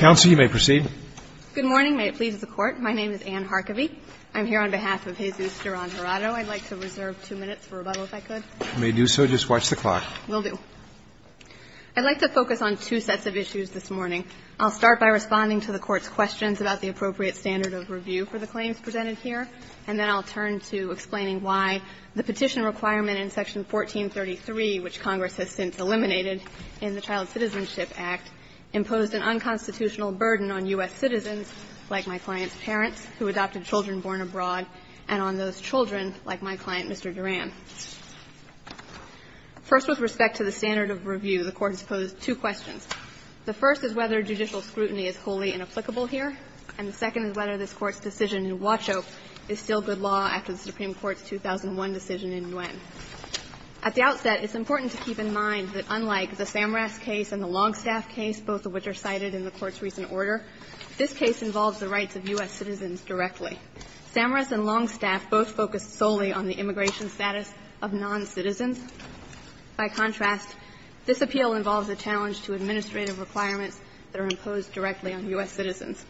May it please the Court, my name is Anne Harkavy. I'm here on behalf of Jesus Duran-Jurado. I'd like to reserve two minutes for rebuttal, if I could. You may do so. Just watch the clock. Will do. I'd like to focus on two sets of issues this morning. I'll start by responding to the Court's questions about the appropriate standard of review for the claims presented here, and then I'll turn to explaining why the petition requirement in Section 1433, which Congress has since eliminated in the Child Citizenship Act, imposed an unconstitutional burden on U.S. citizens, like my client's parents, who adopted children born abroad, and on those children, like my client, Mr. Duran. First, with respect to the standard of review, the Court has posed two questions. The first is whether judicial scrutiny is wholly inapplicable here, and the second is whether this Court's decision in Wacho is still good law after the Supreme Court's 2001 decision in Nguyen. At the outset, it's important to keep in mind that unlike the Samras case and the Longstaff case, both of which are cited in the Court's recent order, this case involves the rights of U.S. citizens directly. Samras and Longstaff both focus solely on the immigration status of noncitizens. By contrast, this appeal involves a challenge to administrative requirements that are imposed directly on U.S. citizens.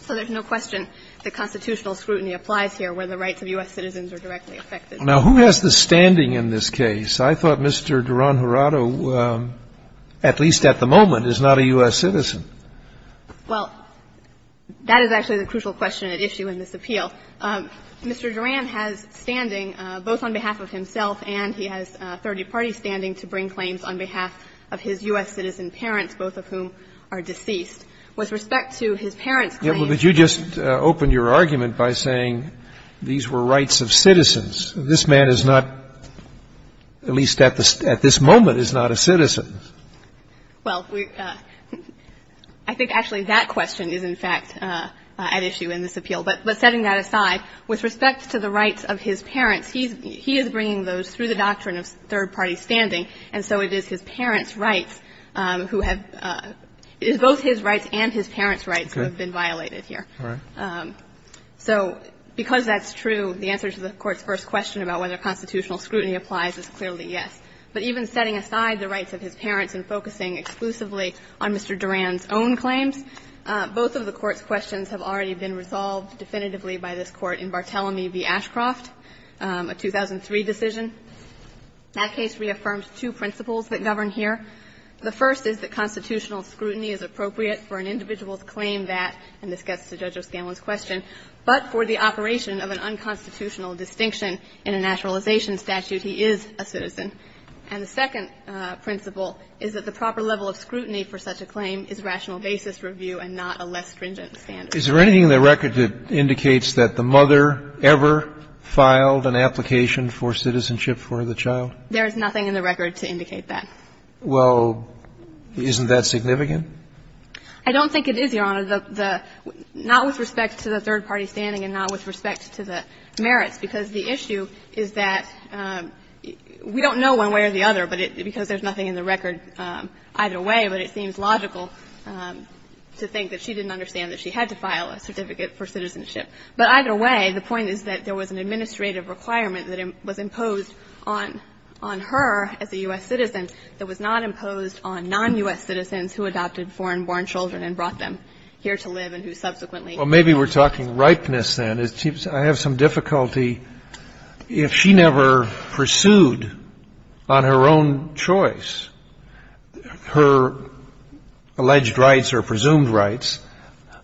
So there's no question that constitutional scrutiny applies here where the rights of U.S. citizens are directly affected. Now, who has the standing in this case? I thought Mr. Duran-Hurado, at least at the moment, is not a U.S. citizen. Well, that is actually the crucial question at issue in this appeal. Mr. Duran has standing, both on behalf of himself and he has third-party standing to bring claims on behalf of his U.S. citizen parents, both of whom are deceased. With respect to his parents' claims… But you just opened your argument by saying these were rights of citizens. This man is not, at least at this moment, is not a citizen. Well, I think actually that question is in fact at issue in this appeal. But setting that aside, with respect to the rights of his parents, he is bringing those through the doctrine of third-party standing, and so it is his parents' rights who have – it is both his rights and his parents' rights who have been violated here. All right. So because that's true, the answer to the Court's first question about whether constitutional scrutiny applies is clearly yes. But even setting aside the rights of his parents and focusing exclusively on Mr. Duran's own claims, both of the Court's questions have already been resolved definitively by this Court in Barthelomew v. Ashcroft, a 2003 decision. That case reaffirmed two principles that govern here. The first is that constitutional scrutiny is appropriate for an individual's claim that – and this gets to Judge O'Scanlan's question – but for the operation of an unconstitutional distinction in a naturalization statute, he is a citizen. And the second principle is that the proper level of scrutiny for such a claim is rational basis review and not a less stringent standard. Is there anything in the record that indicates that the mother ever filed an application for citizenship for the child? There is nothing in the record to indicate that. Well, isn't that significant? I don't think it is, Your Honor. The – not with respect to the third-party standing and not with respect to the merits, because the issue is that we don't know one way or the other, but it – because there's nothing in the record either way, but it seems logical to think that she didn't understand that she had to file a certificate for citizenship. But either way, the point is that there was an administrative requirement that was imposed on her as a U.S. citizen that was not imposed on non-U.S. citizens who adopted foreign-born children and brought them here to live and who subsequently had to leave. Well, maybe we're talking ripeness, then. I have some difficulty. If she never pursued on her own choice her alleged rights or presumed rights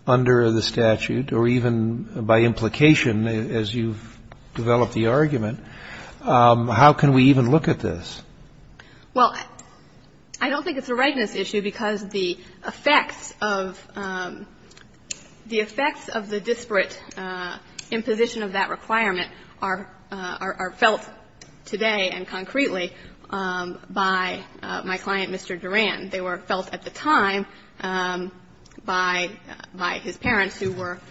under the statute or even by implication, as you've developed the argument, how can we even look at this? Well, I don't think it's a ripeness issue because the effects of the disparate imposition of that requirement are felt today and concretely by my client, Mr. Duran. They were felt at the time by his parents who were –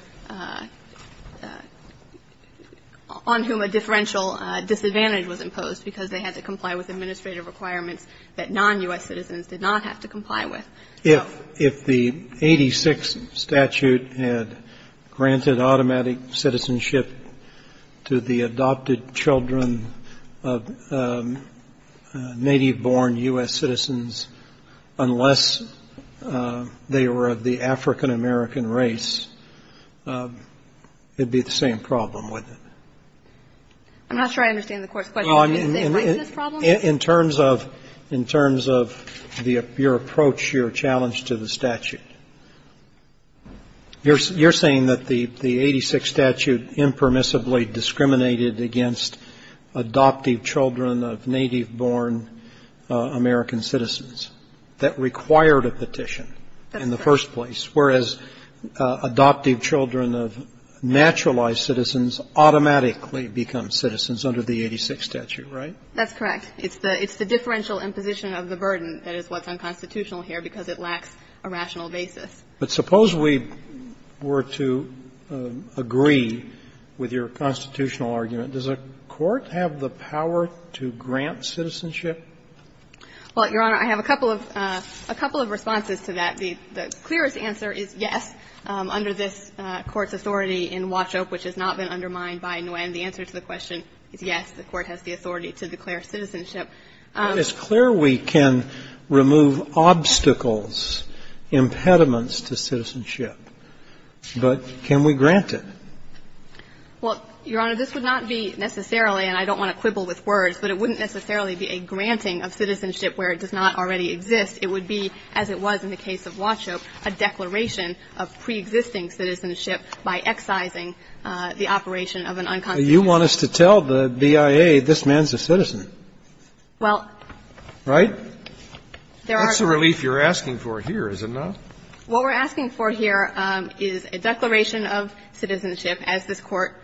on whom a differential disadvantage was imposed because they had to comply with administrative requirements that non-U.S. citizens did not have to comply with. If the 86 statute had granted automatic citizenship to the adopted children of native-born U.S. citizens unless they were of the African-American race, it would be the same problem, wouldn't it? I'm not sure I understand the Court's question. Is it the same ripeness problem? In terms of your approach, your challenge to the statute, you're saying that the 86 statute impermissibly discriminated against adoptive children of native-born African-American citizens that required a petition in the first place, whereas adoptive children of naturalized citizens automatically become citizens under the 86 statute, right? That's correct. It's the differential imposition of the burden that is what's unconstitutional here because it lacks a rational basis. But suppose we were to agree with your constitutional argument. Does a court have the power to grant citizenship? Well, Your Honor, I have a couple of responses to that. The clearest answer is yes. Under this Court's authority in Washope, which has not been undermined by Nguyen, the answer to the question is yes, the Court has the authority to declare citizenship. It's clear we can remove obstacles, impediments to citizenship. But can we grant it? Well, Your Honor, this would not be necessarily, and I don't want to quibble with words, but it wouldn't necessarily be a granting of citizenship where it does not already exist. It would be, as it was in the case of Washope, a declaration of preexisting citizenship by excising the operation of an unconstitutional statute. But you want us to tell the BIA this man's a citizen. Well, there are. Right? That's the relief you're asking for here, is it not? What we're asking for here is a declaration of citizenship, as this Court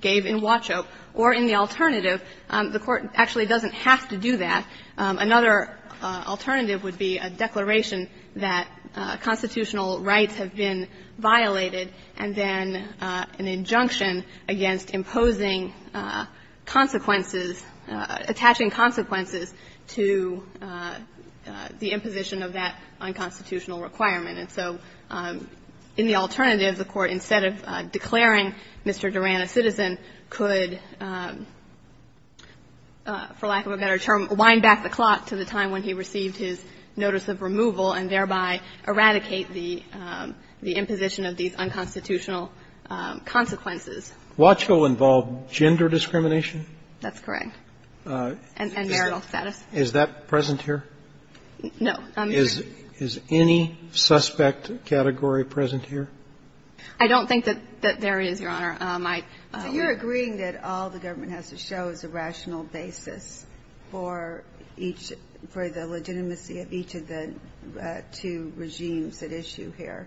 gave in Washope. Or in the alternative, the Court actually doesn't have to do that. Another alternative would be a declaration that constitutional rights have been violated and then an injunction against imposing consequences, attaching consequences to the imposition of that unconstitutional requirement. And so in the alternative, the Court, instead of declaring Mr. Duran a citizen, could, for lack of a better term, wind back the clock to the time when he received his notice of removal and thereby eradicate the imposition of these unconstitutional consequences. Washoe involved gender discrimination? That's correct. And marital sex. Is that present here? No. Is any suspect category present here? I don't think that there is, Your Honor. So you're agreeing that all the government has to show is a rational basis for each of the legitimacy of each of the two regimes at issue here?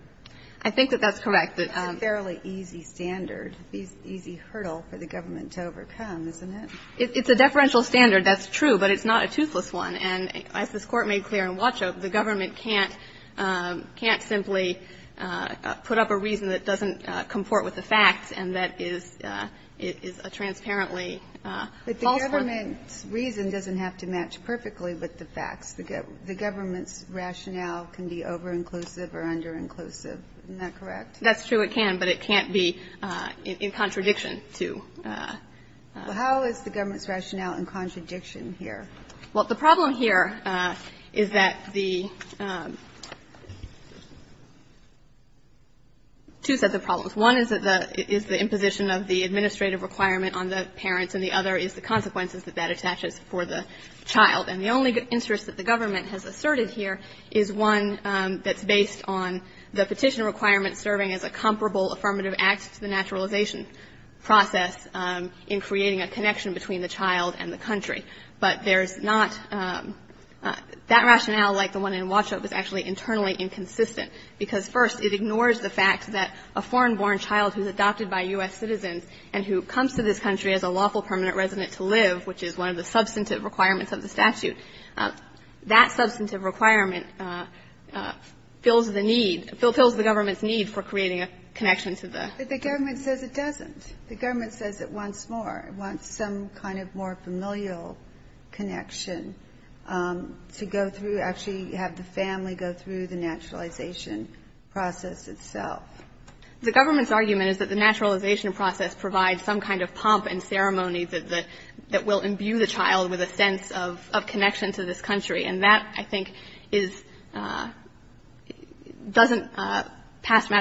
I think that that's correct. It's a fairly easy standard, easy hurdle for the government to overcome, isn't it? It's a deferential standard, that's true, but it's not a toothless one. And as this Court made clear in Washoe, the government can't simply put up a reason that doesn't comport with the facts and that is a transparently false one. But the government's reason doesn't have to match perfectly with the facts. The government's rationale can be over-inclusive or under-inclusive. Isn't that correct? That's true, it can, but it can't be in contradiction to. Well, how is the government's rationale in contradiction here? Well, the problem here is that the two sets of problems. One is the imposition of the administrative requirement on the parents and the other is the consequences that that attaches for the child. And the only interest that the government has asserted here is one that's based on the petition requirement serving as a comparable affirmative act to the naturalization process in creating a connection between the child and the country. But there's not that rationale like the one in Washoe that's actually internally inconsistent because, first, it ignores the fact that a foreign-born child who's adopted by U.S. citizens and who comes to this country as a lawful permanent resident to live, which is one of the substantive requirements of the statute, that substantive requirement fills the need, fulfills the government's need for creating a connection to the country. But the government says it doesn't. The government says it wants more. It wants some kind of more familial connection to go through, actually have the family go through the naturalization process itself. The government's argument is that the naturalization process provides some kind of pump and ceremony that will imbue the child with a sense of connection to this And I think that's a really important point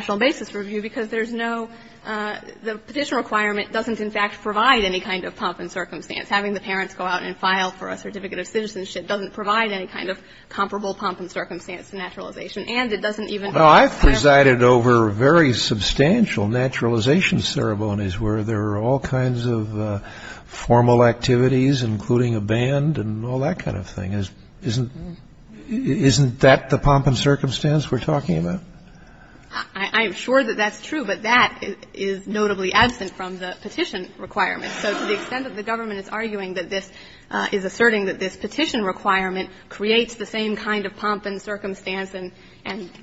to make in this review because there's no the petition requirement doesn't in fact provide any kind of pump and circumstance. Having the parents go out and file for a certificate of citizenship doesn't provide any kind of comparable pump and circumstance to naturalization. And it doesn't even. Kennedy. Well, I've presided over very substantial naturalization ceremonies where there are all kinds of formal activities, including a band and all that kind of thing. Isn't that the pump and circumstance we're talking about? I'm sure that that's true. But that is notably absent from the petition requirement. So to the extent that the government is arguing that this is asserting that this petition requirement creates the same kind of pump and circumstance and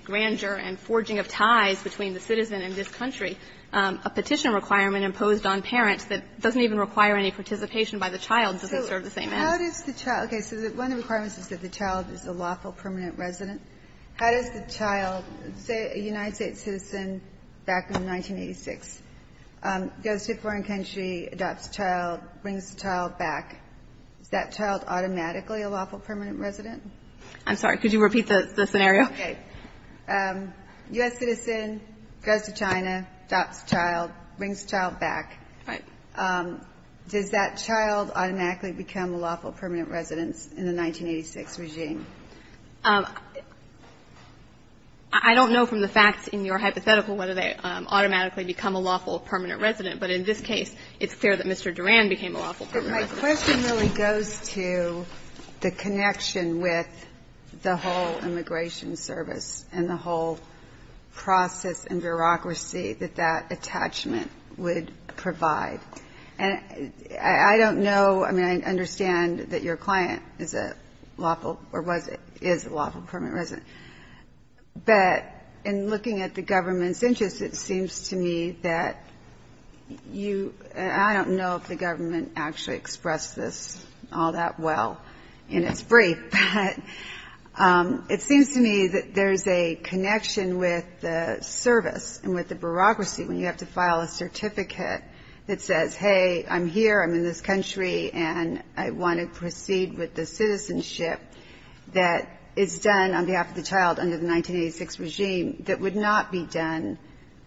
grandeur and forging of ties between the citizen and this country, a petition requirement imposed on parents that doesn't even require any participation by the child doesn't serve the same end. So how does the child? Okay. So one of the requirements is that the child is a lawful permanent resident. How does the child, say a United States citizen back in 1986, goes to a foreign country, adopts a child, brings the child back, is that child automatically a lawful permanent resident? I'm sorry. Could you repeat the scenario? Okay. U.S. citizen goes to China, adopts a child, brings the child back. Right. Does that child automatically become a lawful permanent resident in the 1986 regime? I don't know from the facts in your hypothetical whether they automatically become a lawful permanent resident. But in this case, it's clear that Mr. Duran became a lawful permanent resident. But my question really goes to the connection with the whole immigration service and the whole process and bureaucracy that that attachment would provide. And I don't know, I mean, I understand that your client is a lawful, or was, is a lawful permanent resident. But in looking at the government's interest, it seems to me that you, I don't know if the government actually expressed this all that well in its brief. But it seems to me that there's a connection with the service and with the government that says, hey, I'm here, I'm in this country, and I want to proceed with the citizenship that is done on behalf of the child under the 1986 regime that would not be done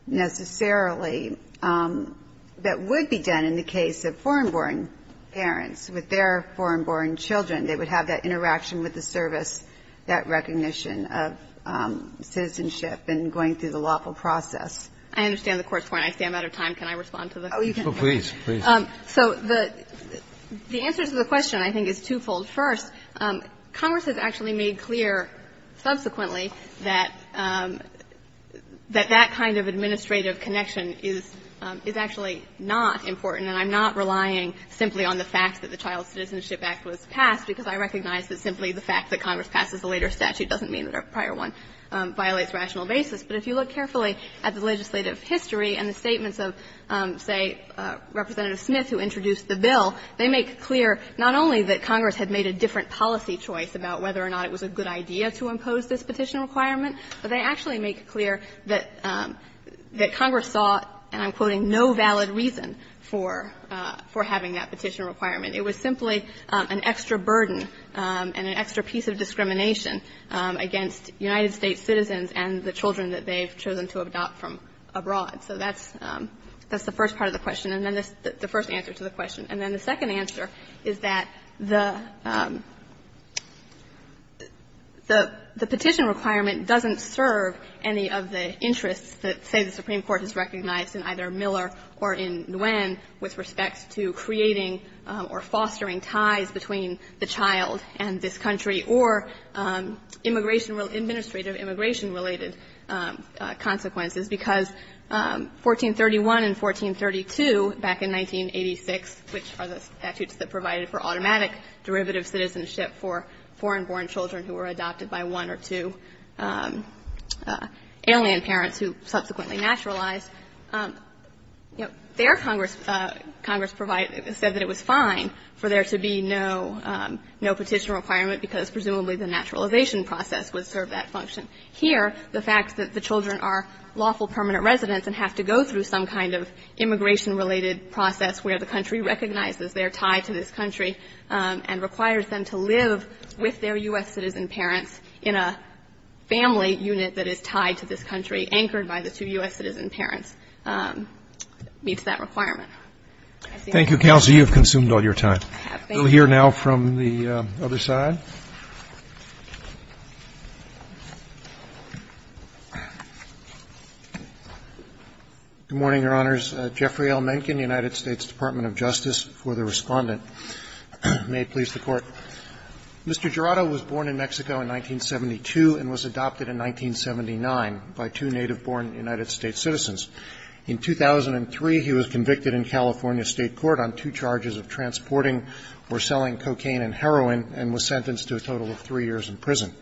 necessarily, that would be done in the case of foreign-born parents with their foreign-born children. They would have that interaction with the service, that recognition of citizenship and going through the lawful process. I understand the Court's point. I see I'm out of time. Can I respond to the question? Oh, you can. Oh, please, please. So the answer to the question, I think, is twofold. First, Congress has actually made clear subsequently that that kind of administrative connection is actually not important, and I'm not relying simply on the fact that the Child Citizenship Act was passed, because I recognize that simply the fact that the legislative history and the statements of, say, Representative Smith who introduced the bill, they make clear not only that Congress had made a different policy choice about whether or not it was a good idea to impose this petition requirement, but they actually make clear that Congress saw, and I'm quoting, no valid reason for having that petition requirement. It was simply an extra burden and an extra piece of discrimination against United States citizens and the children that they've chosen to adopt from abroad. So that's the first part of the question, and then the first answer to the question. And then the second answer is that the petition requirement doesn't serve any of the interests that, say, the Supreme Court has recognized in either Miller or in Nguyen with respect to creating or fostering ties between the child and this country or immigration or administrative immigration-related consequences, because 1431 and 1432 back in 1986, which are the statutes that provided for automatic derivative citizenship for foreign-born children who were adopted by one or two alien parents who subsequently naturalized, their Congress said that it was fine for there to be no petition requirement because presumably the naturalization process would serve that function. Here, the fact that the children are lawful permanent residents and have to go through some kind of immigration-related process where the country recognizes they are tied to this country and requires them to live with their U.S. citizen parents in a family unit that is tied to this country, anchored by the two U.S. citizen parents, meets that requirement. I think that's all. Roberts. Thank you, counsel. You have consumed all your time. Thank you. We'll hear now from the other side. Good morning, Your Honors. Jeffrey L. Mencken, United States Department of Justice, for the Respondent. May it please the Court. Mr. Jurado was born in Mexico in 1972 and was adopted in 1979 by two native-born United States citizens. In 2003, he was convicted in California State Court on two charges of transporting or selling cocaine and heroin, and was sentenced to a total of three years in prison.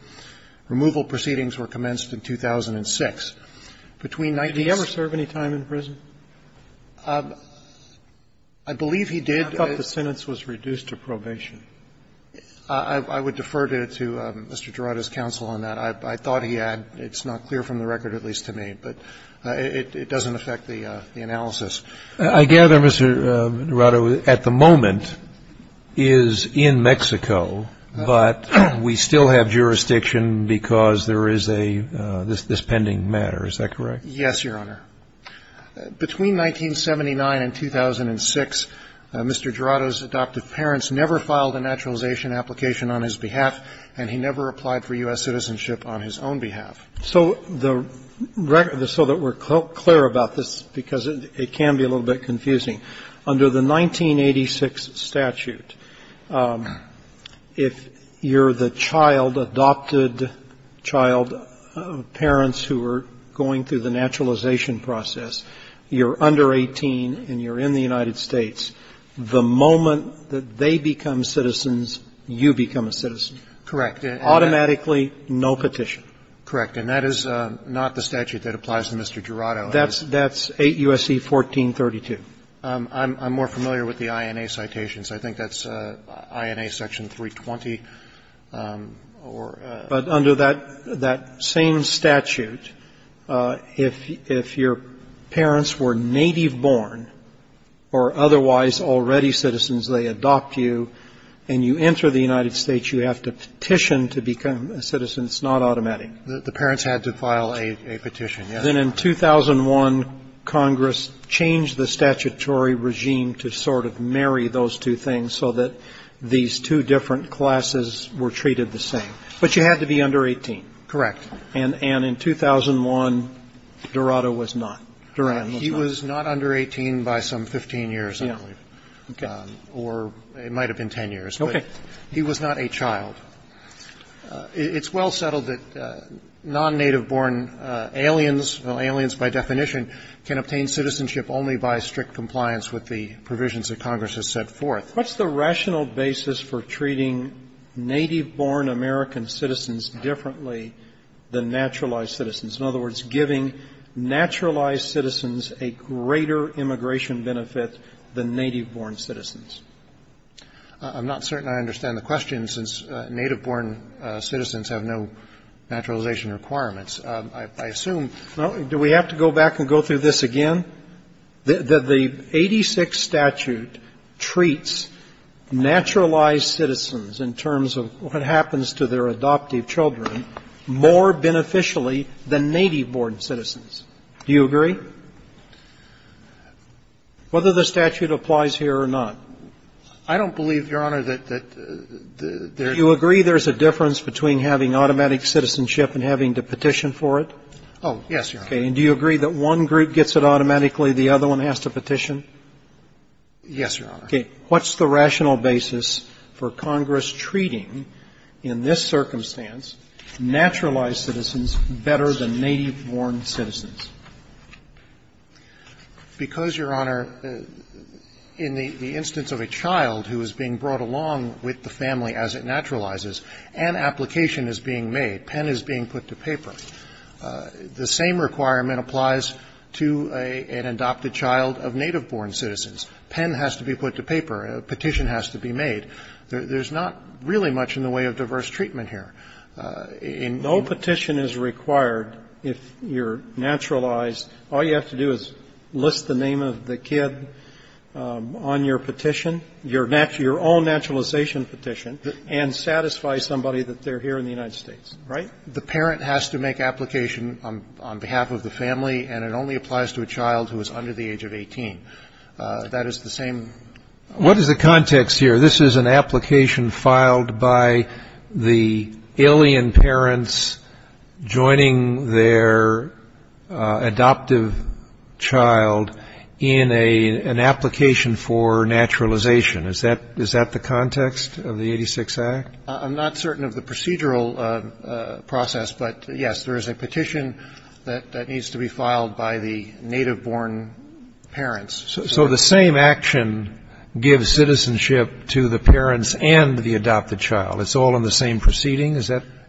Removal proceedings were commenced in 2006. Between 19 and 18 he was sentenced to three years in prison. Did he ever serve any time in prison? I believe he did. I thought the sentence was reduced to probation. I would defer to Mr. Jurado's counsel on that. I thought he had. It's not clear from the record, at least to me. But it doesn't affect the analysis. I gather, Mr. Jurado, at the moment is in Mexico, but we still have jurisdiction because there is this pending matter, is that correct? Yes, Your Honor. Between 1979 and 2006, Mr. Jurado's adoptive parents never filed a naturalization application on his behalf, and he never applied for U.S. citizenship on his own behalf. So the record, so that we're clear about this, because it can be a little bit confusing, under the 1986 statute, if you're the child, adopted child, parents who are going through the naturalization process, you're under 18 and you're in the United States, the moment that they become citizens, you become a citizen. Correct. Automatically, no petition. Correct. And that is not the statute that applies to Mr. Jurado. That's 8 U.S.C. 1432. I'm more familiar with the INA citations. I think that's INA section 320. But under that same statute, if your parents were native-born or otherwise already citizens, they adopt you, and you enter the United States, you have to petition to become a citizen. It's not automatic. The parents had to file a petition, yes. Then in 2001, Congress changed the statutory regime to sort of marry those two things so that these two different classes were treated the same. But you had to be under 18. Correct. And in 2001, Jurado was not. Durand was not. He was not under 18 by some 15 years, I believe. Okay. Or it might have been 10 years. Okay. But he was not a child. It's well settled that non-native-born aliens, aliens by definition, can obtain citizenship only by strict compliance with the provisions that Congress has set forth. What's the rational basis for treating native-born American citizens differently than naturalized citizens? In other words, giving naturalized citizens a greater immigration benefit than native-born citizens? I'm not certain I understand the question, since native-born citizens have no naturalization requirements. I assume do we have to go back and go through this again? Do you agree that the 86 statute treats naturalized citizens in terms of what happens to their adoptive children more beneficially than native-born citizens? Do you agree? Whether the statute applies here or not. I don't believe, Your Honor, that there's a difference between having automatic citizenship and having to petition for it. Oh, yes, Your Honor. Okay. And do you agree that one group gets it automatically, the other one has to petition? Yes, Your Honor. Okay. What's the rational basis for Congress treating, in this circumstance, naturalized citizens better than native-born citizens? Because, Your Honor, in the instance of a child who is being brought along with the family as it naturalizes, an application is being made, pen is being put to paper. The same requirement applies to an adopted child of native-born citizens. Pen has to be put to paper. A petition has to be made. There's not really much in the way of diverse treatment here. No petition is required if you're naturalized. All you have to do is list the name of the kid on your petition, your own naturalization petition, and satisfy somebody that they're here in the United States, right? The parent has to make application on behalf of the family, and it only applies to a child who is under the age of 18. That is the same. What is the context here? This is an application filed by the alien parents joining their adoptive child in an application for naturalization. Is that the context of the 86 Act? I'm not certain of the procedural process, but, yes, there is a petition that needs to be filed by the native-born parents. So the same action gives citizenship to the parents and the adopted child? It's all in the same proceeding?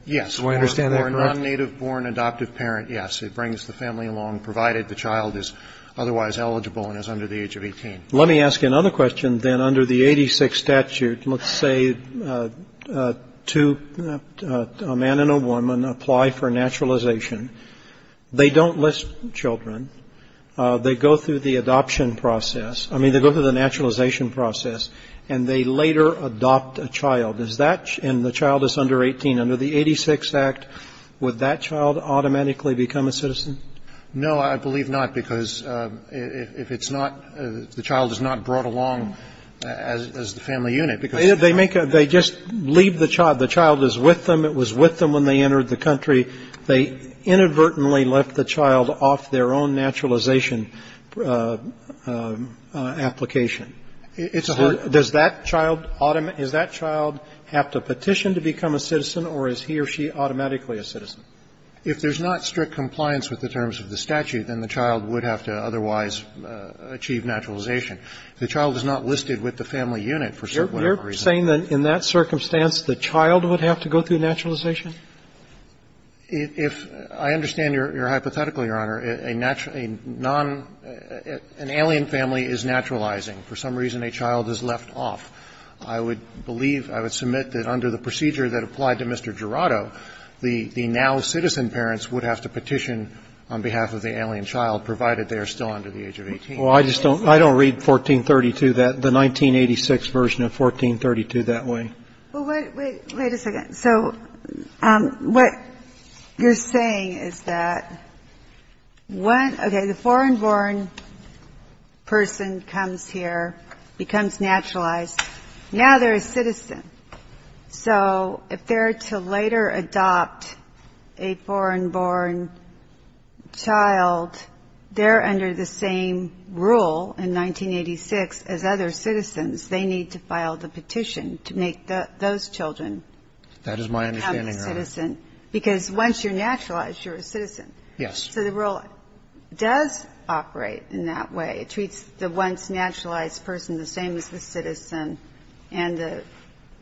Yes. Do I understand that correctly? For a non-native-born adoptive parent, yes. It brings the family along, provided the child is otherwise eligible and is under the age of 18. Let me ask you another question, then, under the 86 statute. Let's say a man and a woman apply for naturalization. They don't list children. They go through the adoption process. I mean, they go through the naturalization process, and they later adopt a child. And the child is under 18. Under the 86 Act, would that child automatically become a citizen? No, I believe not, because if it's not, the child is not brought along as the family unit, because they make a, they just leave the child. The child is with them. It was with them when they entered the country. They inadvertently left the child off their own naturalization application. It's a hard. Does that child, is that child have to petition to become a citizen, or is he or she automatically a citizen? If there's not strict compliance with the terms of the statute, then the child would have to otherwise achieve naturalization. The child is not listed with the family unit for whatever reason. You're saying that in that circumstance, the child would have to go through naturalization? If, I understand your hypothetical, Your Honor. A natural, a non, an alien family is naturalizing. For some reason, a child is left off. I would believe, I would submit that under the procedure that applied to Mr. Jurado, the now citizen parents would have to petition on behalf of the alien child, provided they are still under the age of 18. Well, I just don't, I don't read 1432 that, the 1986 version of 1432 that way. Well, wait, wait, wait a second. So what you're saying is that one, okay, the foreign born person comes here, becomes naturalized. Now they're a citizen. So if they're to later adopt a foreign born child, they're under the same rule in 1986 as other citizens. They need to file the petition to make those children become a citizen. That is my understanding, Your Honor. Because once you're naturalized, you're a citizen. Yes. So the rule does operate in that way. It treats the once naturalized person the same as the citizen and the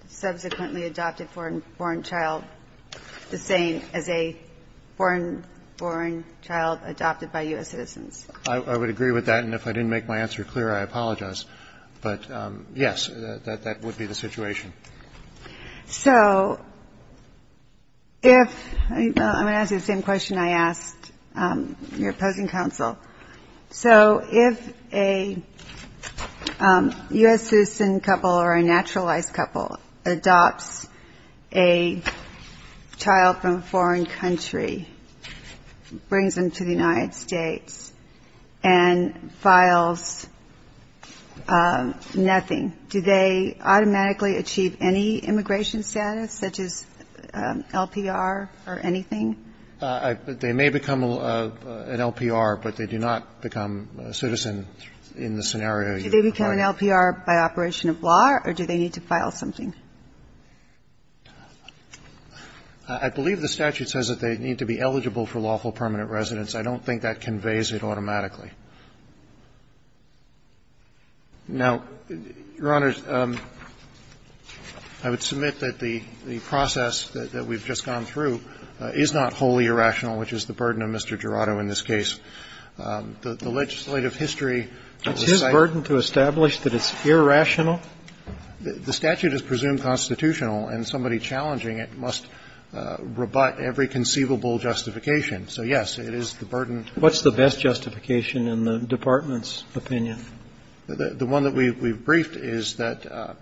subsequently adopted foreign born child the same as a foreign born child adopted by U.S. citizens. I would agree with that. And if I didn't make my answer clear, I apologize. But, yes, that would be the situation. So if, well, I'm going to ask you the same question I asked your opposing counsel. So if a U.S. citizen couple or a naturalized couple adopts a child from a foreign country, brings them to the United States, and files nothing, do they automatically achieve any immigration status such as LPR or anything? They may become an LPR, but they do not become a citizen in the scenario. Do they become an LPR by operation of law or do they need to file something? I believe the statute says that they need to be eligible for lawful permanent residence. I don't think that conveys it automatically. Now, Your Honor, I would submit that the process that we've just gone through is not wholly irrational, which is the burden of Mr. Jurado in this case. The legislative history of the site It's his burden to establish that it's irrational? The statute is presumed constitutional, and somebody challenging it must rebut every conceivable justification. So, yes, it is the burden What's the best justification in the Department's opinion? The one that we've briefed is that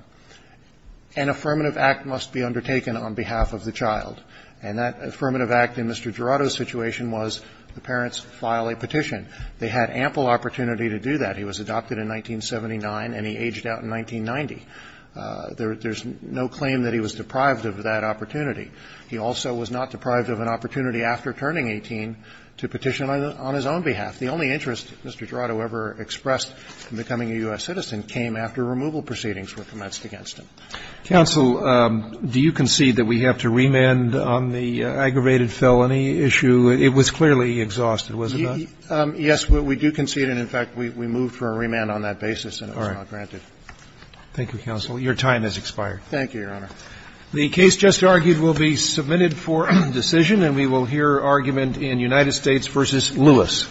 an affirmative act must be undertaken on behalf of the child. And that affirmative act in Mr. Jurado's situation was the parents file a petition. They had ample opportunity to do that. He was adopted in 1979 and he aged out in 1990. There's no claim that he was deprived of that opportunity. He also was not deprived of an opportunity after turning 18 to petition on his own behalf. The only interest Mr. Jurado ever expressed in becoming a U.S. citizen came after removal proceedings were commenced against him. Counsel, do you concede that we have to remand on the aggravated felony issue? It was clearly exhausted, was it not? Yes, we do concede and, in fact, we moved for a remand on that basis and it was not granted. Thank you, counsel. Your time has expired. Thank you, Your Honor. The case just argued will be submitted for decision and we will hear argument in United States v. Lewis.